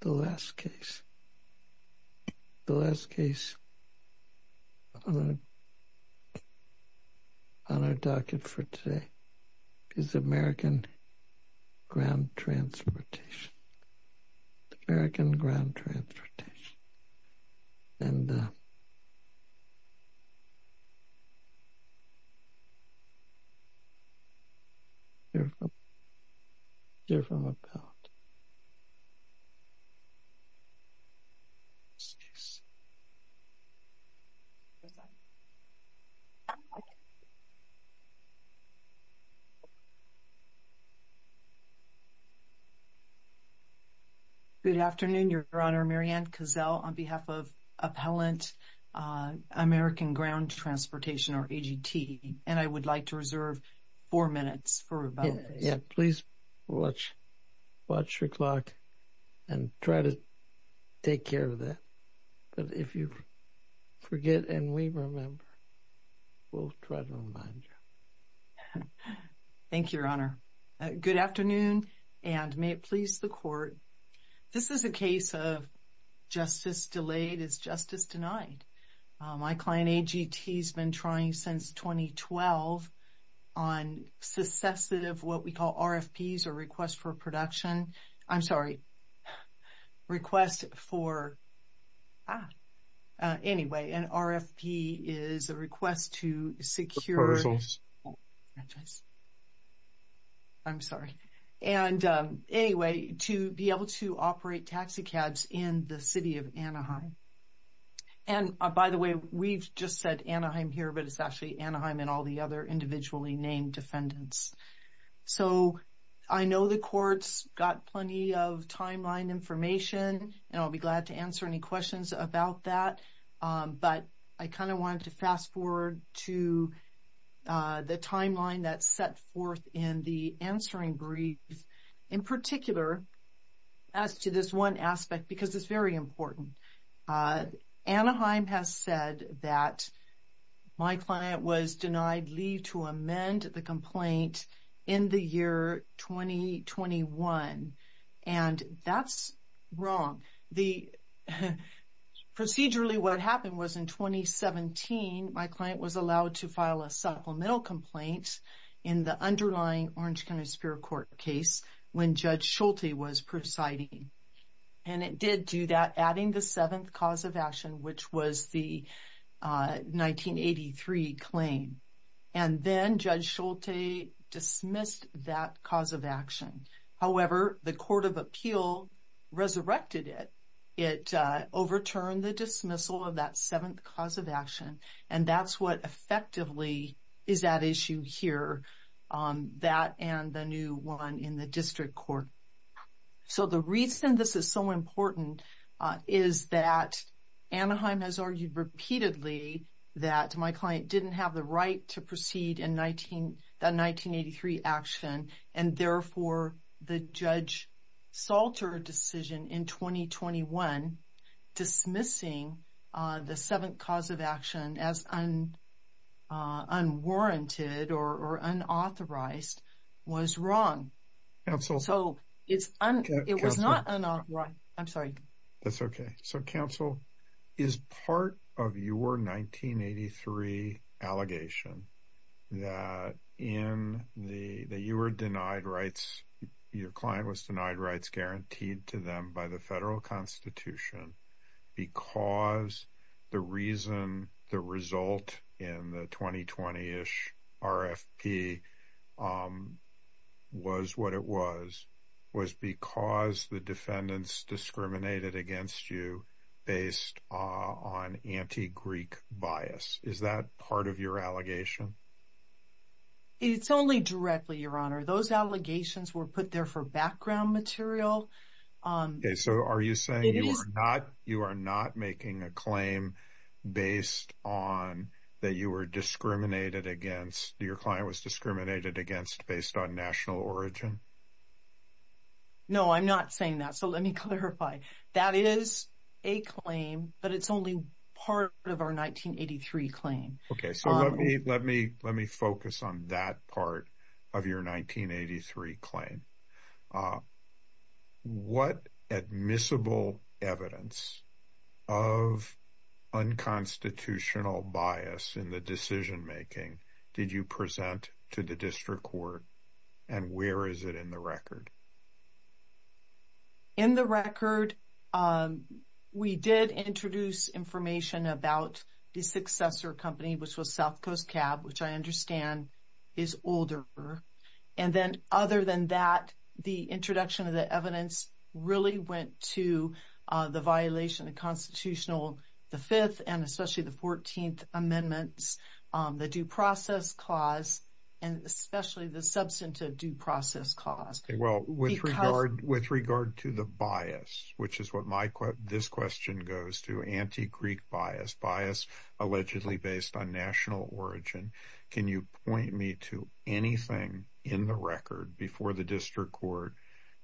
The last case, the last case on our docket for today is American Ground Transportation. American Ground Transportation. And they're from about Good afternoon, Your Honor. Mary Ann Cazell on behalf of Appellant American Ground Transportation, or AGT. And I would like to reserve four minutes for rebuttals. Yeah, please watch your clock and try to take care of that. But if you forget and we remember, we'll try to remind you. Thank you, Your Honor. Good afternoon, and may it please the Court. This is a case of justice delayed is justice denied. My client, AGT, has been trying since 2012 on successive of what we call RFPs, or requests for production. I'm sorry. Request for Anyway, an RFP is a request to secure I'm sorry. And anyway, to be able to operate taxicabs in the city of Anaheim. And by the way, we've just said Anaheim here, but it's actually Anaheim and all the other individually named defendants. So I know the courts got plenty of timeline information, and I'll be glad to answer any questions about that. But I kind of wanted to fast forward to the timeline that's set forth in the answering brief. In particular, as to this one aspect, because it's very important, Anaheim has said that my client was denied leave to amend the complaint in the year 2021. And that's wrong. Procedurally, what happened was in 2017, my client was allowed to file a supplemental complaint in the underlying Orange County Superior Court case when Judge Schulte was presiding. And it did do that, adding the seventh cause of action, which was the 1983 claim. And then Judge Schulte dismissed that cause of action. However, the Court of Appeal resurrected it. It overturned the dismissal of that seventh cause of action. And that's what effectively is at issue here, that and the new one in the district court. So the reason this is so important is that Anaheim has argued repeatedly that my client didn't have the right to proceed in the 1983 action. And therefore, the Judge Schulte decision in 2021 dismissing the seventh cause of action as unwarranted or unauthorized was wrong. So it was not unauthorized. I'm sorry. was because the defendants discriminated against you based on anti-Greek bias. Is that part of your allegation? It's only directly, Your Honor. Those allegations were put there for background material. So are you saying you are not making a claim based on that your client was discriminated against based on national origin? No, I'm not saying that. So let me clarify. That is a claim, but it's only part of our 1983 claim. Okay, so let me focus on that part of your 1983 claim. What admissible evidence of unconstitutional bias in the decision making did you present to the district court? And where is it in the record? In the record, we did introduce information about the successor company, which was South Coast Cab, which I understand is older. And then other than that, the introduction of the evidence really went to the violation of constitutional, the fifth and especially the 14th amendments, the due process clause, and especially the substantive due process clause. With regard to the bias, which is what this question goes to, anti-Greek bias, bias allegedly based on national origin. Can you point me to anything in the record before the district court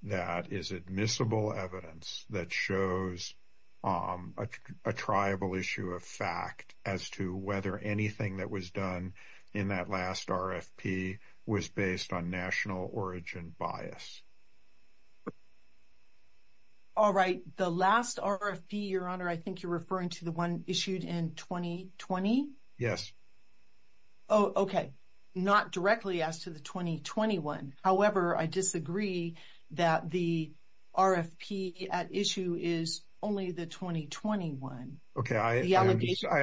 that is admissible evidence that shows a tribal issue of fact as to whether anything that was done in that last RFP was based on national origin bias? All right, the last RFP, Your Honor, I think you're referring to the one issued in 2020? Yes. Oh, okay. Not directly as to the 2021. However, I disagree that the RFP at issue is only the 2021. Okay, I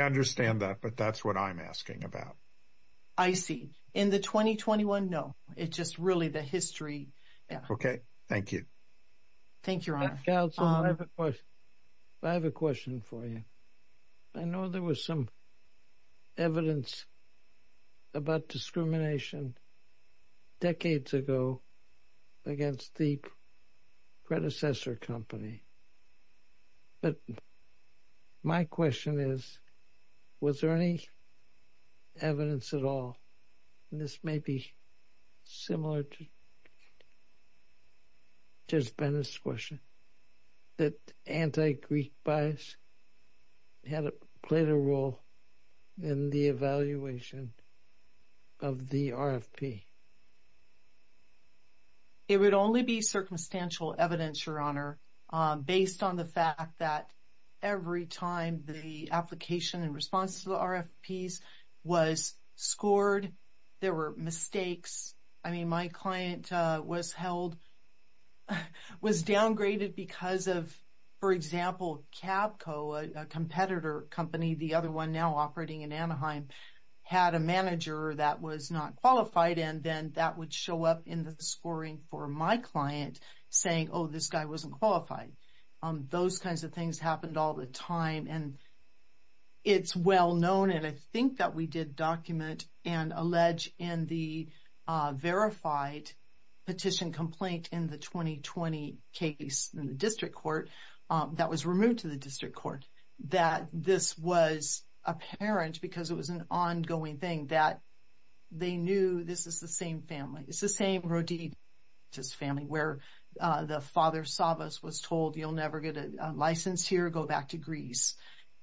understand that, but that's what I'm asking about. I see. In the 2021, no. It's just really the history. Okay, thank you. Thank you, Your Honor. I have a question for you. I know there was some evidence about discrimination decades ago against the predecessor company. But my question is, was there any evidence at all, and this may be similar to Ben's question, that anti-Greek bias played a role in the evaluation of the RFP? It would only be circumstantial evidence, Your Honor, based on the fact that every time the application in response to the RFPs was scored, there were mistakes. I mean, my client was downgraded because of, for example, Cabco, a competitor company, the other one now operating in Anaheim, had a manager that was not qualified. And then that would show up in the scoring for my client saying, oh, this guy wasn't qualified. Those kinds of things happened all the time. And it's well known, and I think that we did document and allege in the verified petition complaint in the 2020 case in the district court that was removed to the district court, that this was apparent because it was an ongoing thing, that they knew this is the same family. It's the same Rodides family, where the father, Savvas, was told, you'll never get a license here, go back to Greece.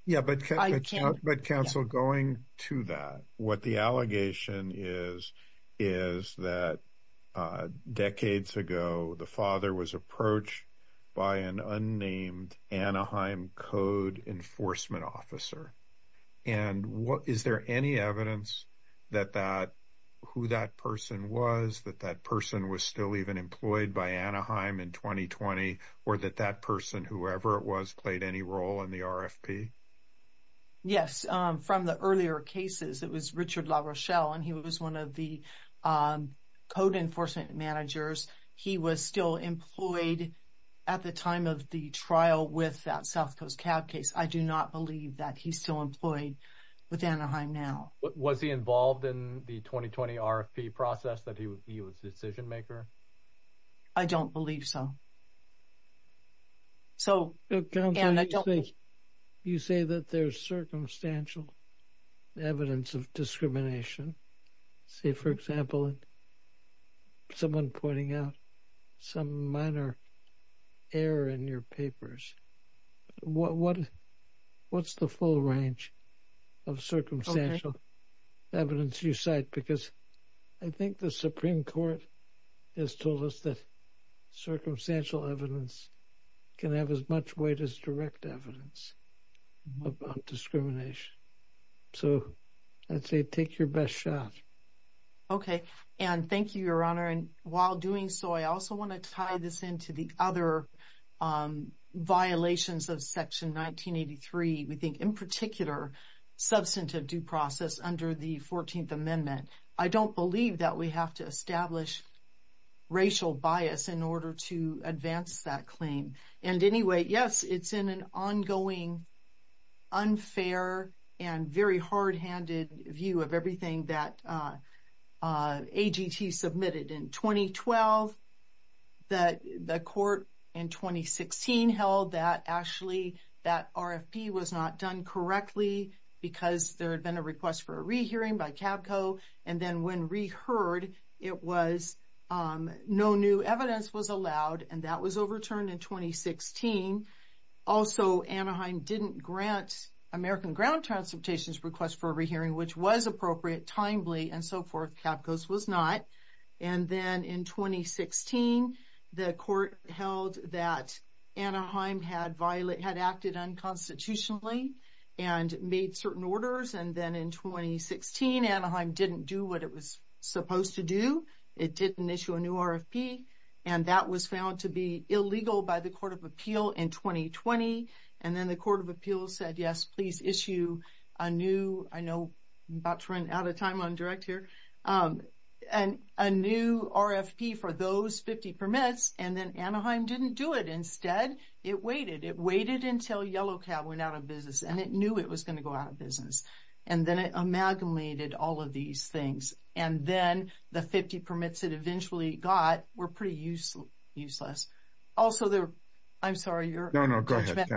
Yeah, but counsel, going to that, what the allegation is, is that decades ago, the father was approached by an unnamed Anaheim code enforcement officer. And is there any evidence that that, who that person was, that that person was still even employed by Anaheim in 2020, or that that person, whoever it was, played any role in the RFP? Yes, from the earlier cases, it was Richard LaRochelle, and he was one of the code enforcement managers. He was still employed at the time of the trial with that South Coast Cab case. I do not believe that he's still employed with Anaheim now. Was he involved in the 2020 RFP process, that he was the decision maker? I don't believe so. Counsel, you say that there's circumstantial evidence of discrimination. Say, for example, someone pointing out some minor error in your papers. What's the full range of circumstantial evidence you cite? Because I think the Supreme Court has told us that circumstantial evidence can have as much weight as direct evidence about discrimination. So, I'd say take your best shot. Okay. And thank you, Your Honor. And while doing so, I also want to tie this into the other violations of Section 1983. We think, in particular, substantive due process under the 14th Amendment. I don't believe that we have to establish racial bias in order to advance that claim. And anyway, yes, it's in an ongoing, unfair, and very hard-handed view of everything that AGT submitted. In 2012, the court in 2016 held that actually that RFP was not done correctly because there had been a request for a rehearing by CABCO. And then when reheard, no new evidence was allowed, and that was overturned in 2016. Also, Anaheim didn't grant American Ground Transportation's request for a rehearing, which was appropriate, timely, and so forth. CABCO's was not. And then in 2016, the court held that Anaheim had acted unconstitutionally and made certain orders. And then in 2016, Anaheim didn't do what it was supposed to do. It didn't issue a new RFP. And that was found to be illegal by the Court of Appeal in 2020. And then the Court of Appeal said, yes, please issue a new, I know I'm about to run out of time on direct here, a new RFP for those 50 permits. And then Anaheim didn't do it. Instead, it waited. It waited until Yellow Cab went out of business. And it knew it was going to go out of business. And then it amalgamated all of these things. And then the 50 permits it eventually got were pretty useless. Also, I'm sorry. No, no, go ahead.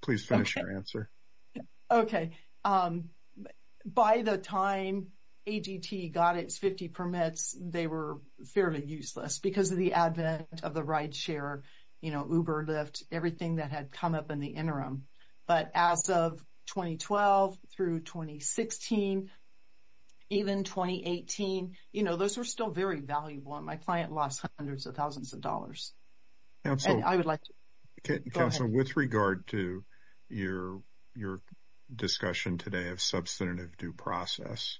Please finish your answer. Okay. By the time ADT got its 50 permits, they were fairly useless because of the advent of the ride share, you know, Uber, Lyft, all of those things come up in the interim. But as of 2012 through 2016, even 2018, you know, those were still very valuable. And my client lost hundreds of thousands of dollars. And I would like to, go ahead. Counselor, with regard to your discussion today of substantive due process,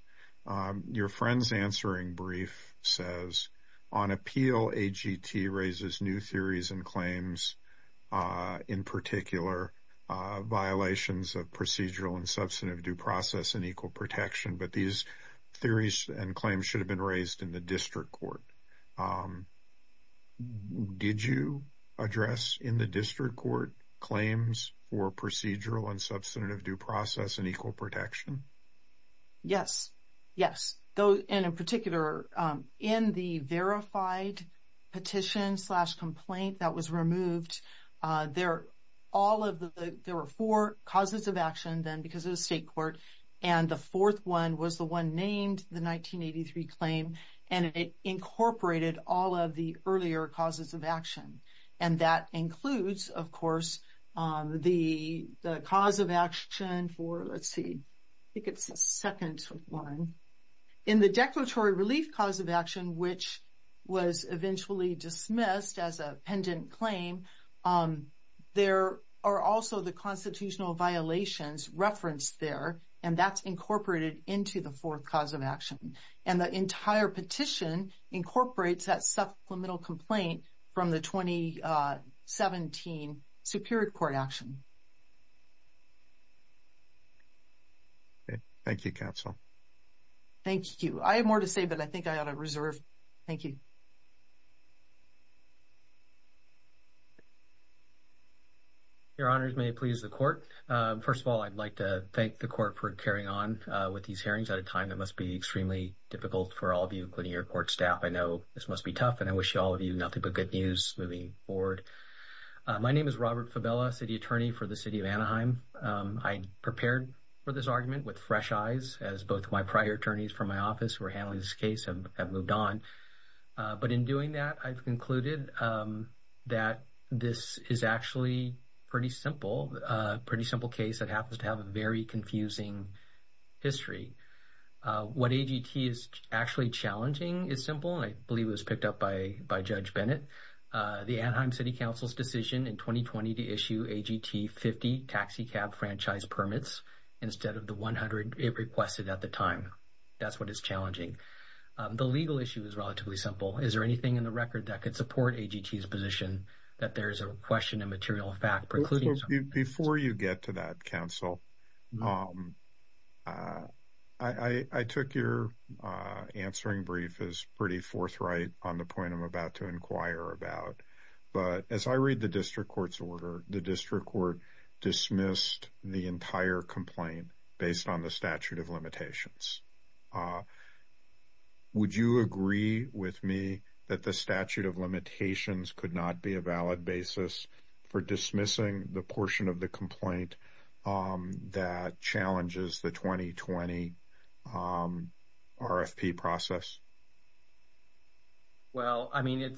your friend's answering brief says, on appeal, AGT raises new theories and claims, in particular, violations of procedural and substantive due process and equal protection. But these theories and claims should have been raised in the district court. Did you address in the district court claims for procedural and substantive due process and equal protection? Yes, yes. And in particular, in the verified petition slash complaint that was removed, there were four causes of action then because of the state court. And the fourth one was the one named the 1983 claim. And it incorporated all of the earlier causes of action. And that includes, of course, the cause of action for, let's see. I think it's the second one. In the declaratory relief cause of action, which was eventually dismissed as a pendant claim, there are also the constitutional violations referenced there. And that's incorporated into the fourth cause of action. And the entire petition incorporates that supplemental complaint from the 2017 Superior Court action. Thank you, counsel. Thank you. I have more to say, but I think I ought to reserve. Thank you. Your honors, may it please the court. First of all, I'd like to thank the court for carrying on with these hearings at a time that must be extremely difficult for all of you, including your court staff. I know this must be tough, and I wish all of you nothing but good news moving forward. My name is Robert Fabella, city attorney for the city of Anaheim. I prepared for this argument with fresh eyes, as both my prior attorneys from my office who were handling this case have moved on. But in doing that, I've concluded that this is actually a pretty simple case that happens to have a very confusing history. What AGT is actually challenging is simple, and I believe it was picked up by Judge Bennett. The Anaheim City Council's decision in 2020 to issue AGT 50 taxicab franchise permits instead of the 100 it requested at the time. That's what is challenging. The legal issue is relatively simple. Is there anything in the record that could support AGT's position that there is a question of material fact precluding something? Before you get to that, counsel, I took your answering brief as pretty forthright on the point I'm about to inquire about. But as I read the district court's order, the district court dismissed the entire complaint based on the statute of limitations. Would you agree with me that the statute of limitations could not be a valid basis for dismissing the portion of the complaint that challenges the 2020 RFP process? Well, I mean,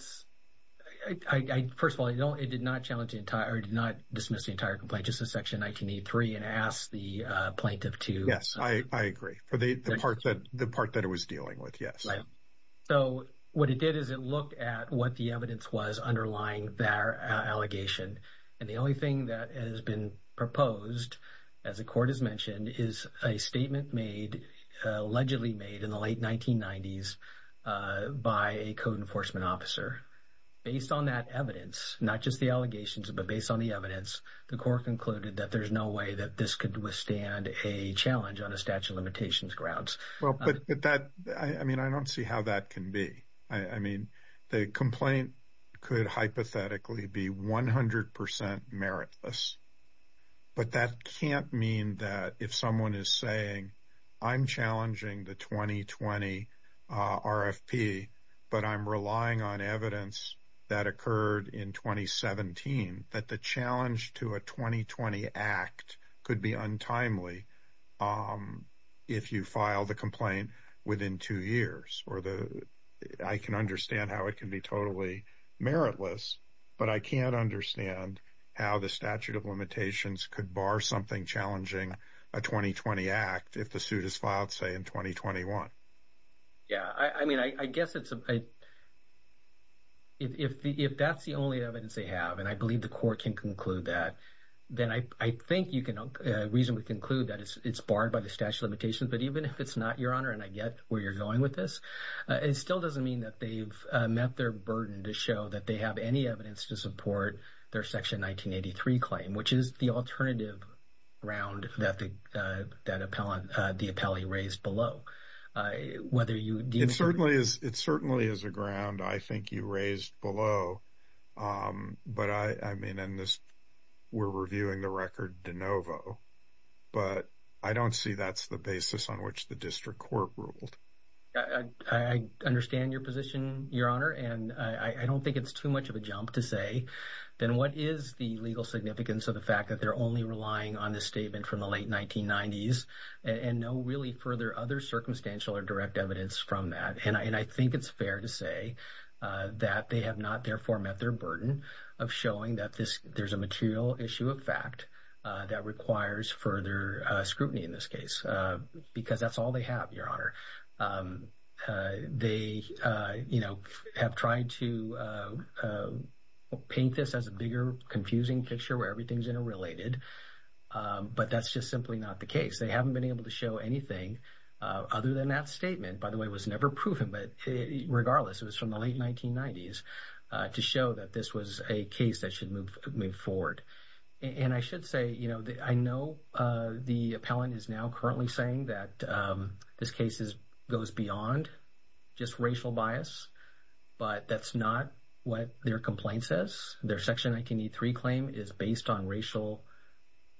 first of all, it did not dismiss the entire complaint, just the section 1983 and ask the plaintiff to... I agree. For the part that it was dealing with, yes. So what it did is it looked at what the evidence was underlying their allegation. And the only thing that has been proposed, as the court has mentioned, is a statement allegedly made in the late 1990s by a code enforcement officer. Based on that evidence, not just the allegations, but based on the evidence, the court concluded that there's no way that this could withstand a challenge on a statute of limitations grounds. Well, but that, I mean, I don't see how that can be. I mean, the complaint could hypothetically be 100% meritless. But that can't mean that if someone is saying, I'm challenging the 2020 RFP, but I'm relying on evidence that occurred in 2017, that the challenge to a 2020 act could be untimely if you file the complaint within two years. I can understand how it can be totally meritless, but I can't understand how the statute of limitations could bar something challenging a 2020 act if the suit is filed, say, in 2021. Yeah, I mean, I guess if that's the only evidence they have, and I believe the court can conclude that, then I think you can reasonably conclude that it's barred by the statute of limitations. But even if it's not, Your Honor, and I get where you're going with this, it still doesn't mean that they've met their burden to show that they have any evidence to support their Section 1983 claim, which is the alternative round that the appellee raised below. It certainly is a ground I think you raised below, but I mean, and we're reviewing the record de novo, but I don't see that's the basis on which the district court ruled. I understand your position, Your Honor, and I don't think it's too much of a jump to say, then what is the legal significance of the fact that they're only relying on this statement from the late 1990s and no really further other circumstantial or direct evidence from that? And I think it's fair to say that they have not, therefore, met their burden of showing that there's a material issue of fact that requires further scrutiny in this case, because that's all they have, Your Honor. They have tried to paint this as a bigger, confusing picture where everything's interrelated, but that's just simply not the case. They haven't been able to show anything other than that statement. By the way, it was never proven, but regardless, it was from the late 1990s to show that this was a case that should move forward. And I should say, you know, I know the appellant is now currently saying that this case goes beyond just racial bias, but that's not what their complaint says. Their Section 1983 claim is based on racial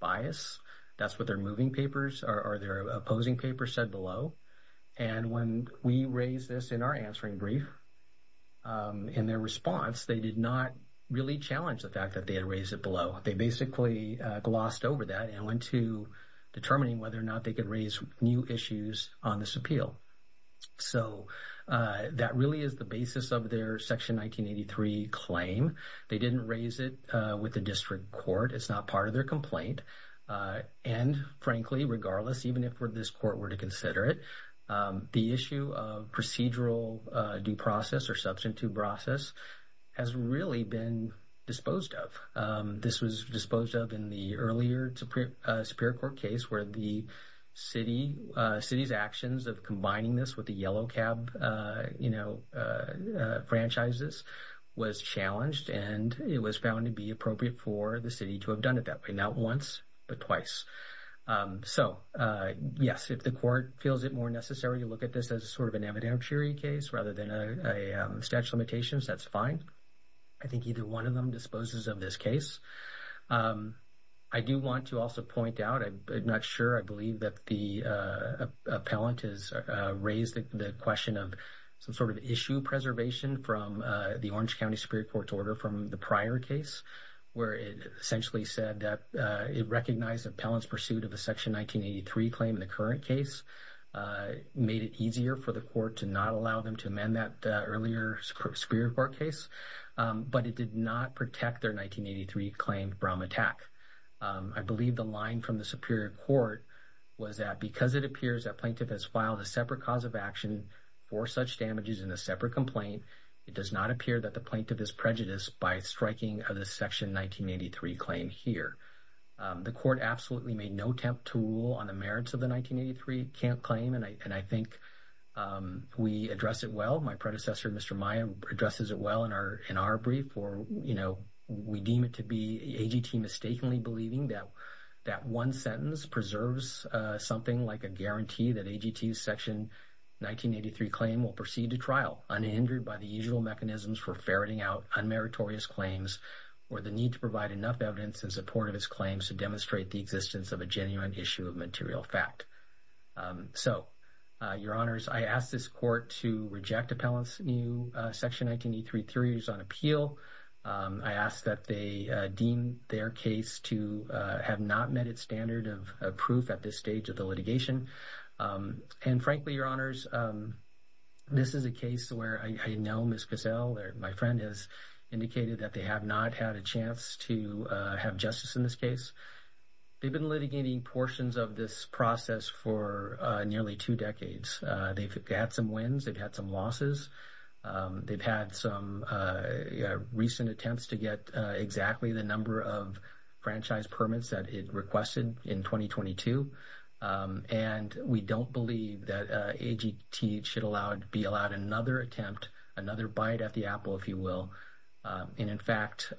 bias. That's what their moving papers or their opposing papers said below. And when we raised this in our answering brief, in their response, they did not really challenge the fact that they had raised it below. They basically glossed over that and went to determining whether or not they could raise new issues on this appeal. So that really is the basis of their Section 1983 claim. They didn't raise it with the district court. It's not part of their complaint. And frankly, regardless, even if this court were to consider it, the issue of procedural due process or substitute process has really been disposed of. This was disposed of in the earlier Superior Court case where the city's actions of combining this with the yellow cab, you know, franchises was challenged. And it was found to be appropriate for the city to have done it that way, not once, but twice. So, yes, if the court feels it more necessary to look at this as sort of an evidentiary case rather than a statute of limitations, that's fine. I think either one of them disposes of this case. I do want to also point out, I'm not sure, I believe that the appellant has raised the question of some sort of issue preservation from the Orange County Superior Court's order from the prior case, where it essentially said that it recognized the appellant's pursuit of the Section 1983 claim in the current case, made it easier for the court to not allow them to amend that earlier Superior Court case, but it did not protect their 1983 claim from attack. I believe the line from the Superior Court was that because it appears that plaintiff has filed a separate cause of action for such damages in a separate complaint, it does not appear that the plaintiff is prejudiced by striking of the Section 1983 claim here. The court absolutely made no attempt to rule on the merits of the 1983 claim, and I think we address it well. My predecessor, Mr. Maia, addresses it well in our brief for, you know, we deem it to be AGT mistakenly believing that that one sentence preserves something like a guarantee that AGT's Section 1983 claim will proceed to trial unhindered by the usual mechanisms for ferreting out unmeritorious claims or the need to provide enough evidence in support of its claims to demonstrate the existence of a genuine issue of material fact. So, Your Honors, I ask this court to reject appellant's new Section 1983 theories on appeal. I ask that they deem their case to have not met its standard of proof at this stage of the litigation. And frankly, Your Honors, this is a case where I know Ms. Gazelle, my friend, has indicated that they have not had a chance to have justice in this case. They've been litigating portions of this process for nearly two decades. They've had some wins. They've had some losses. They've had some recent attempts to get exactly the number of franchise permits that it requested in 2022. And we don't believe that AGT should be allowed another attempt, another bite at the apple, if you will. And in fact,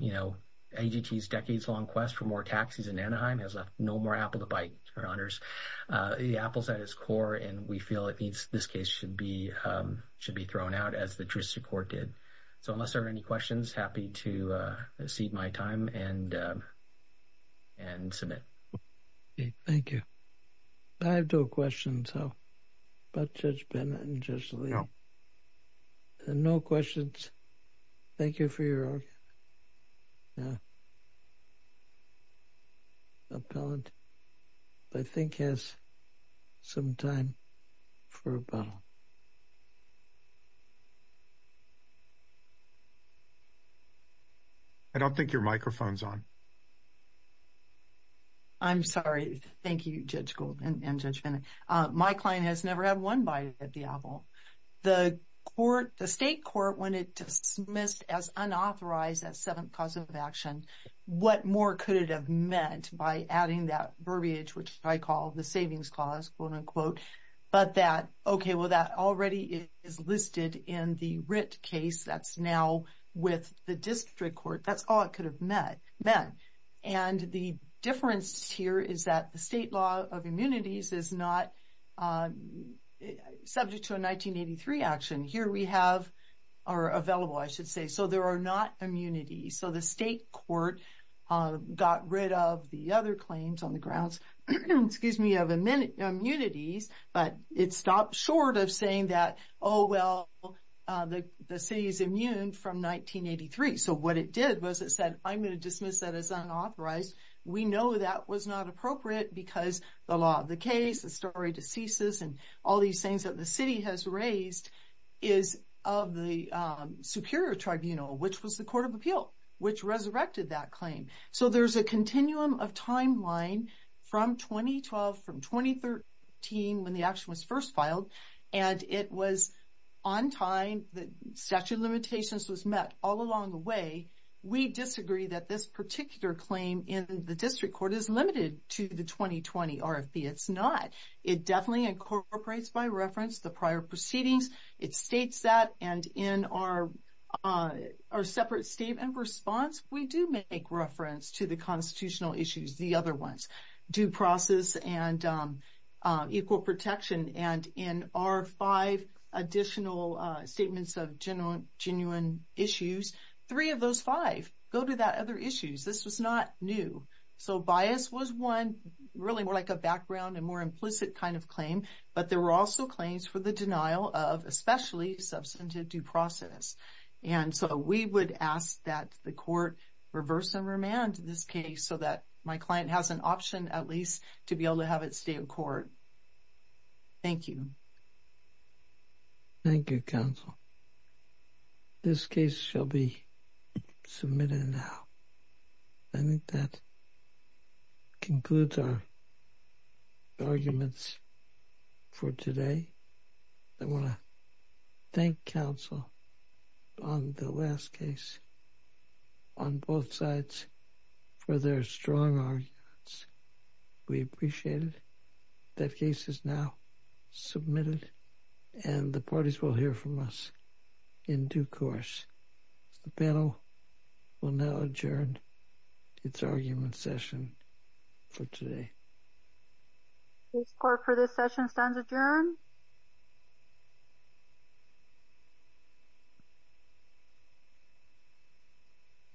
you know, AGT's decades-long quest for more taxis in Anaheim has left no more apple to bite, Your Honors. The apple's at its core, and we feel this case should be thrown out as the jurisdiction court did. So unless there are any questions, happy to cede my time and submit. Thank you. I have no questions, though, about Judge Bennett and Judge Lee. No questions. Thank you for your argument. The appellant, I think, has some time for rebuttal. I don't think your microphone's on. I'm sorry. Thank you, Judge Gould and Judge Bennett. My client has never had one bite at the apple. The court, the state court, when it dismissed as unauthorized that seventh cause of action, what more could it have meant by adding that verbiage, which I call the savings clause, quote unquote, but that, okay, well, that already is listed in the writ case that's now with the district court. That's all it could have meant. And the difference here is that the state law of immunities is not subject to a 1983 action. Here we have, or available, I should say, so there are not immunities. So the state court got rid of the other claims on the grounds, excuse me, of immunities, but it stopped short of saying that, oh, well, the city's immune from 1983. So what it did was it said, I'm going to dismiss that as unauthorized. We know that was not appropriate because the law of the case, the story to ceases, and all these things that the city has raised is of the Superior Tribunal, which was the Court of Appeal, which resurrected that claim. So there's a continuum of timeline from 2012, from 2013, when the action was first filed, and it was on time, the statute of limitations was met all along the way. We disagree that this particular claim in the district court is limited to the 2020 RFP. It's not. It definitely incorporates by reference the prior proceedings. It states that, and in our separate statement response, we do make reference to the constitutional issues, the other ones, due process and equal protection. And in our five additional statements of genuine issues, three of those five go to the other issues. This was not new. So bias was one, really more like a background and more implicit kind of claim, but there were also claims for the denial of especially substantive due process. And so we would ask that the court reverse and remand this case so that my client has an option at least to be able to have it stay in court. Thank you. Thank you, counsel. This case shall be submitted now. I think that concludes our arguments for today. I want to thank counsel on the last case on both sides for their strong arguments. We appreciate it. That case is now submitted and the parties will hear from us in due course. The panel will now adjourn its argument session for today. This court for this session stands adjourned.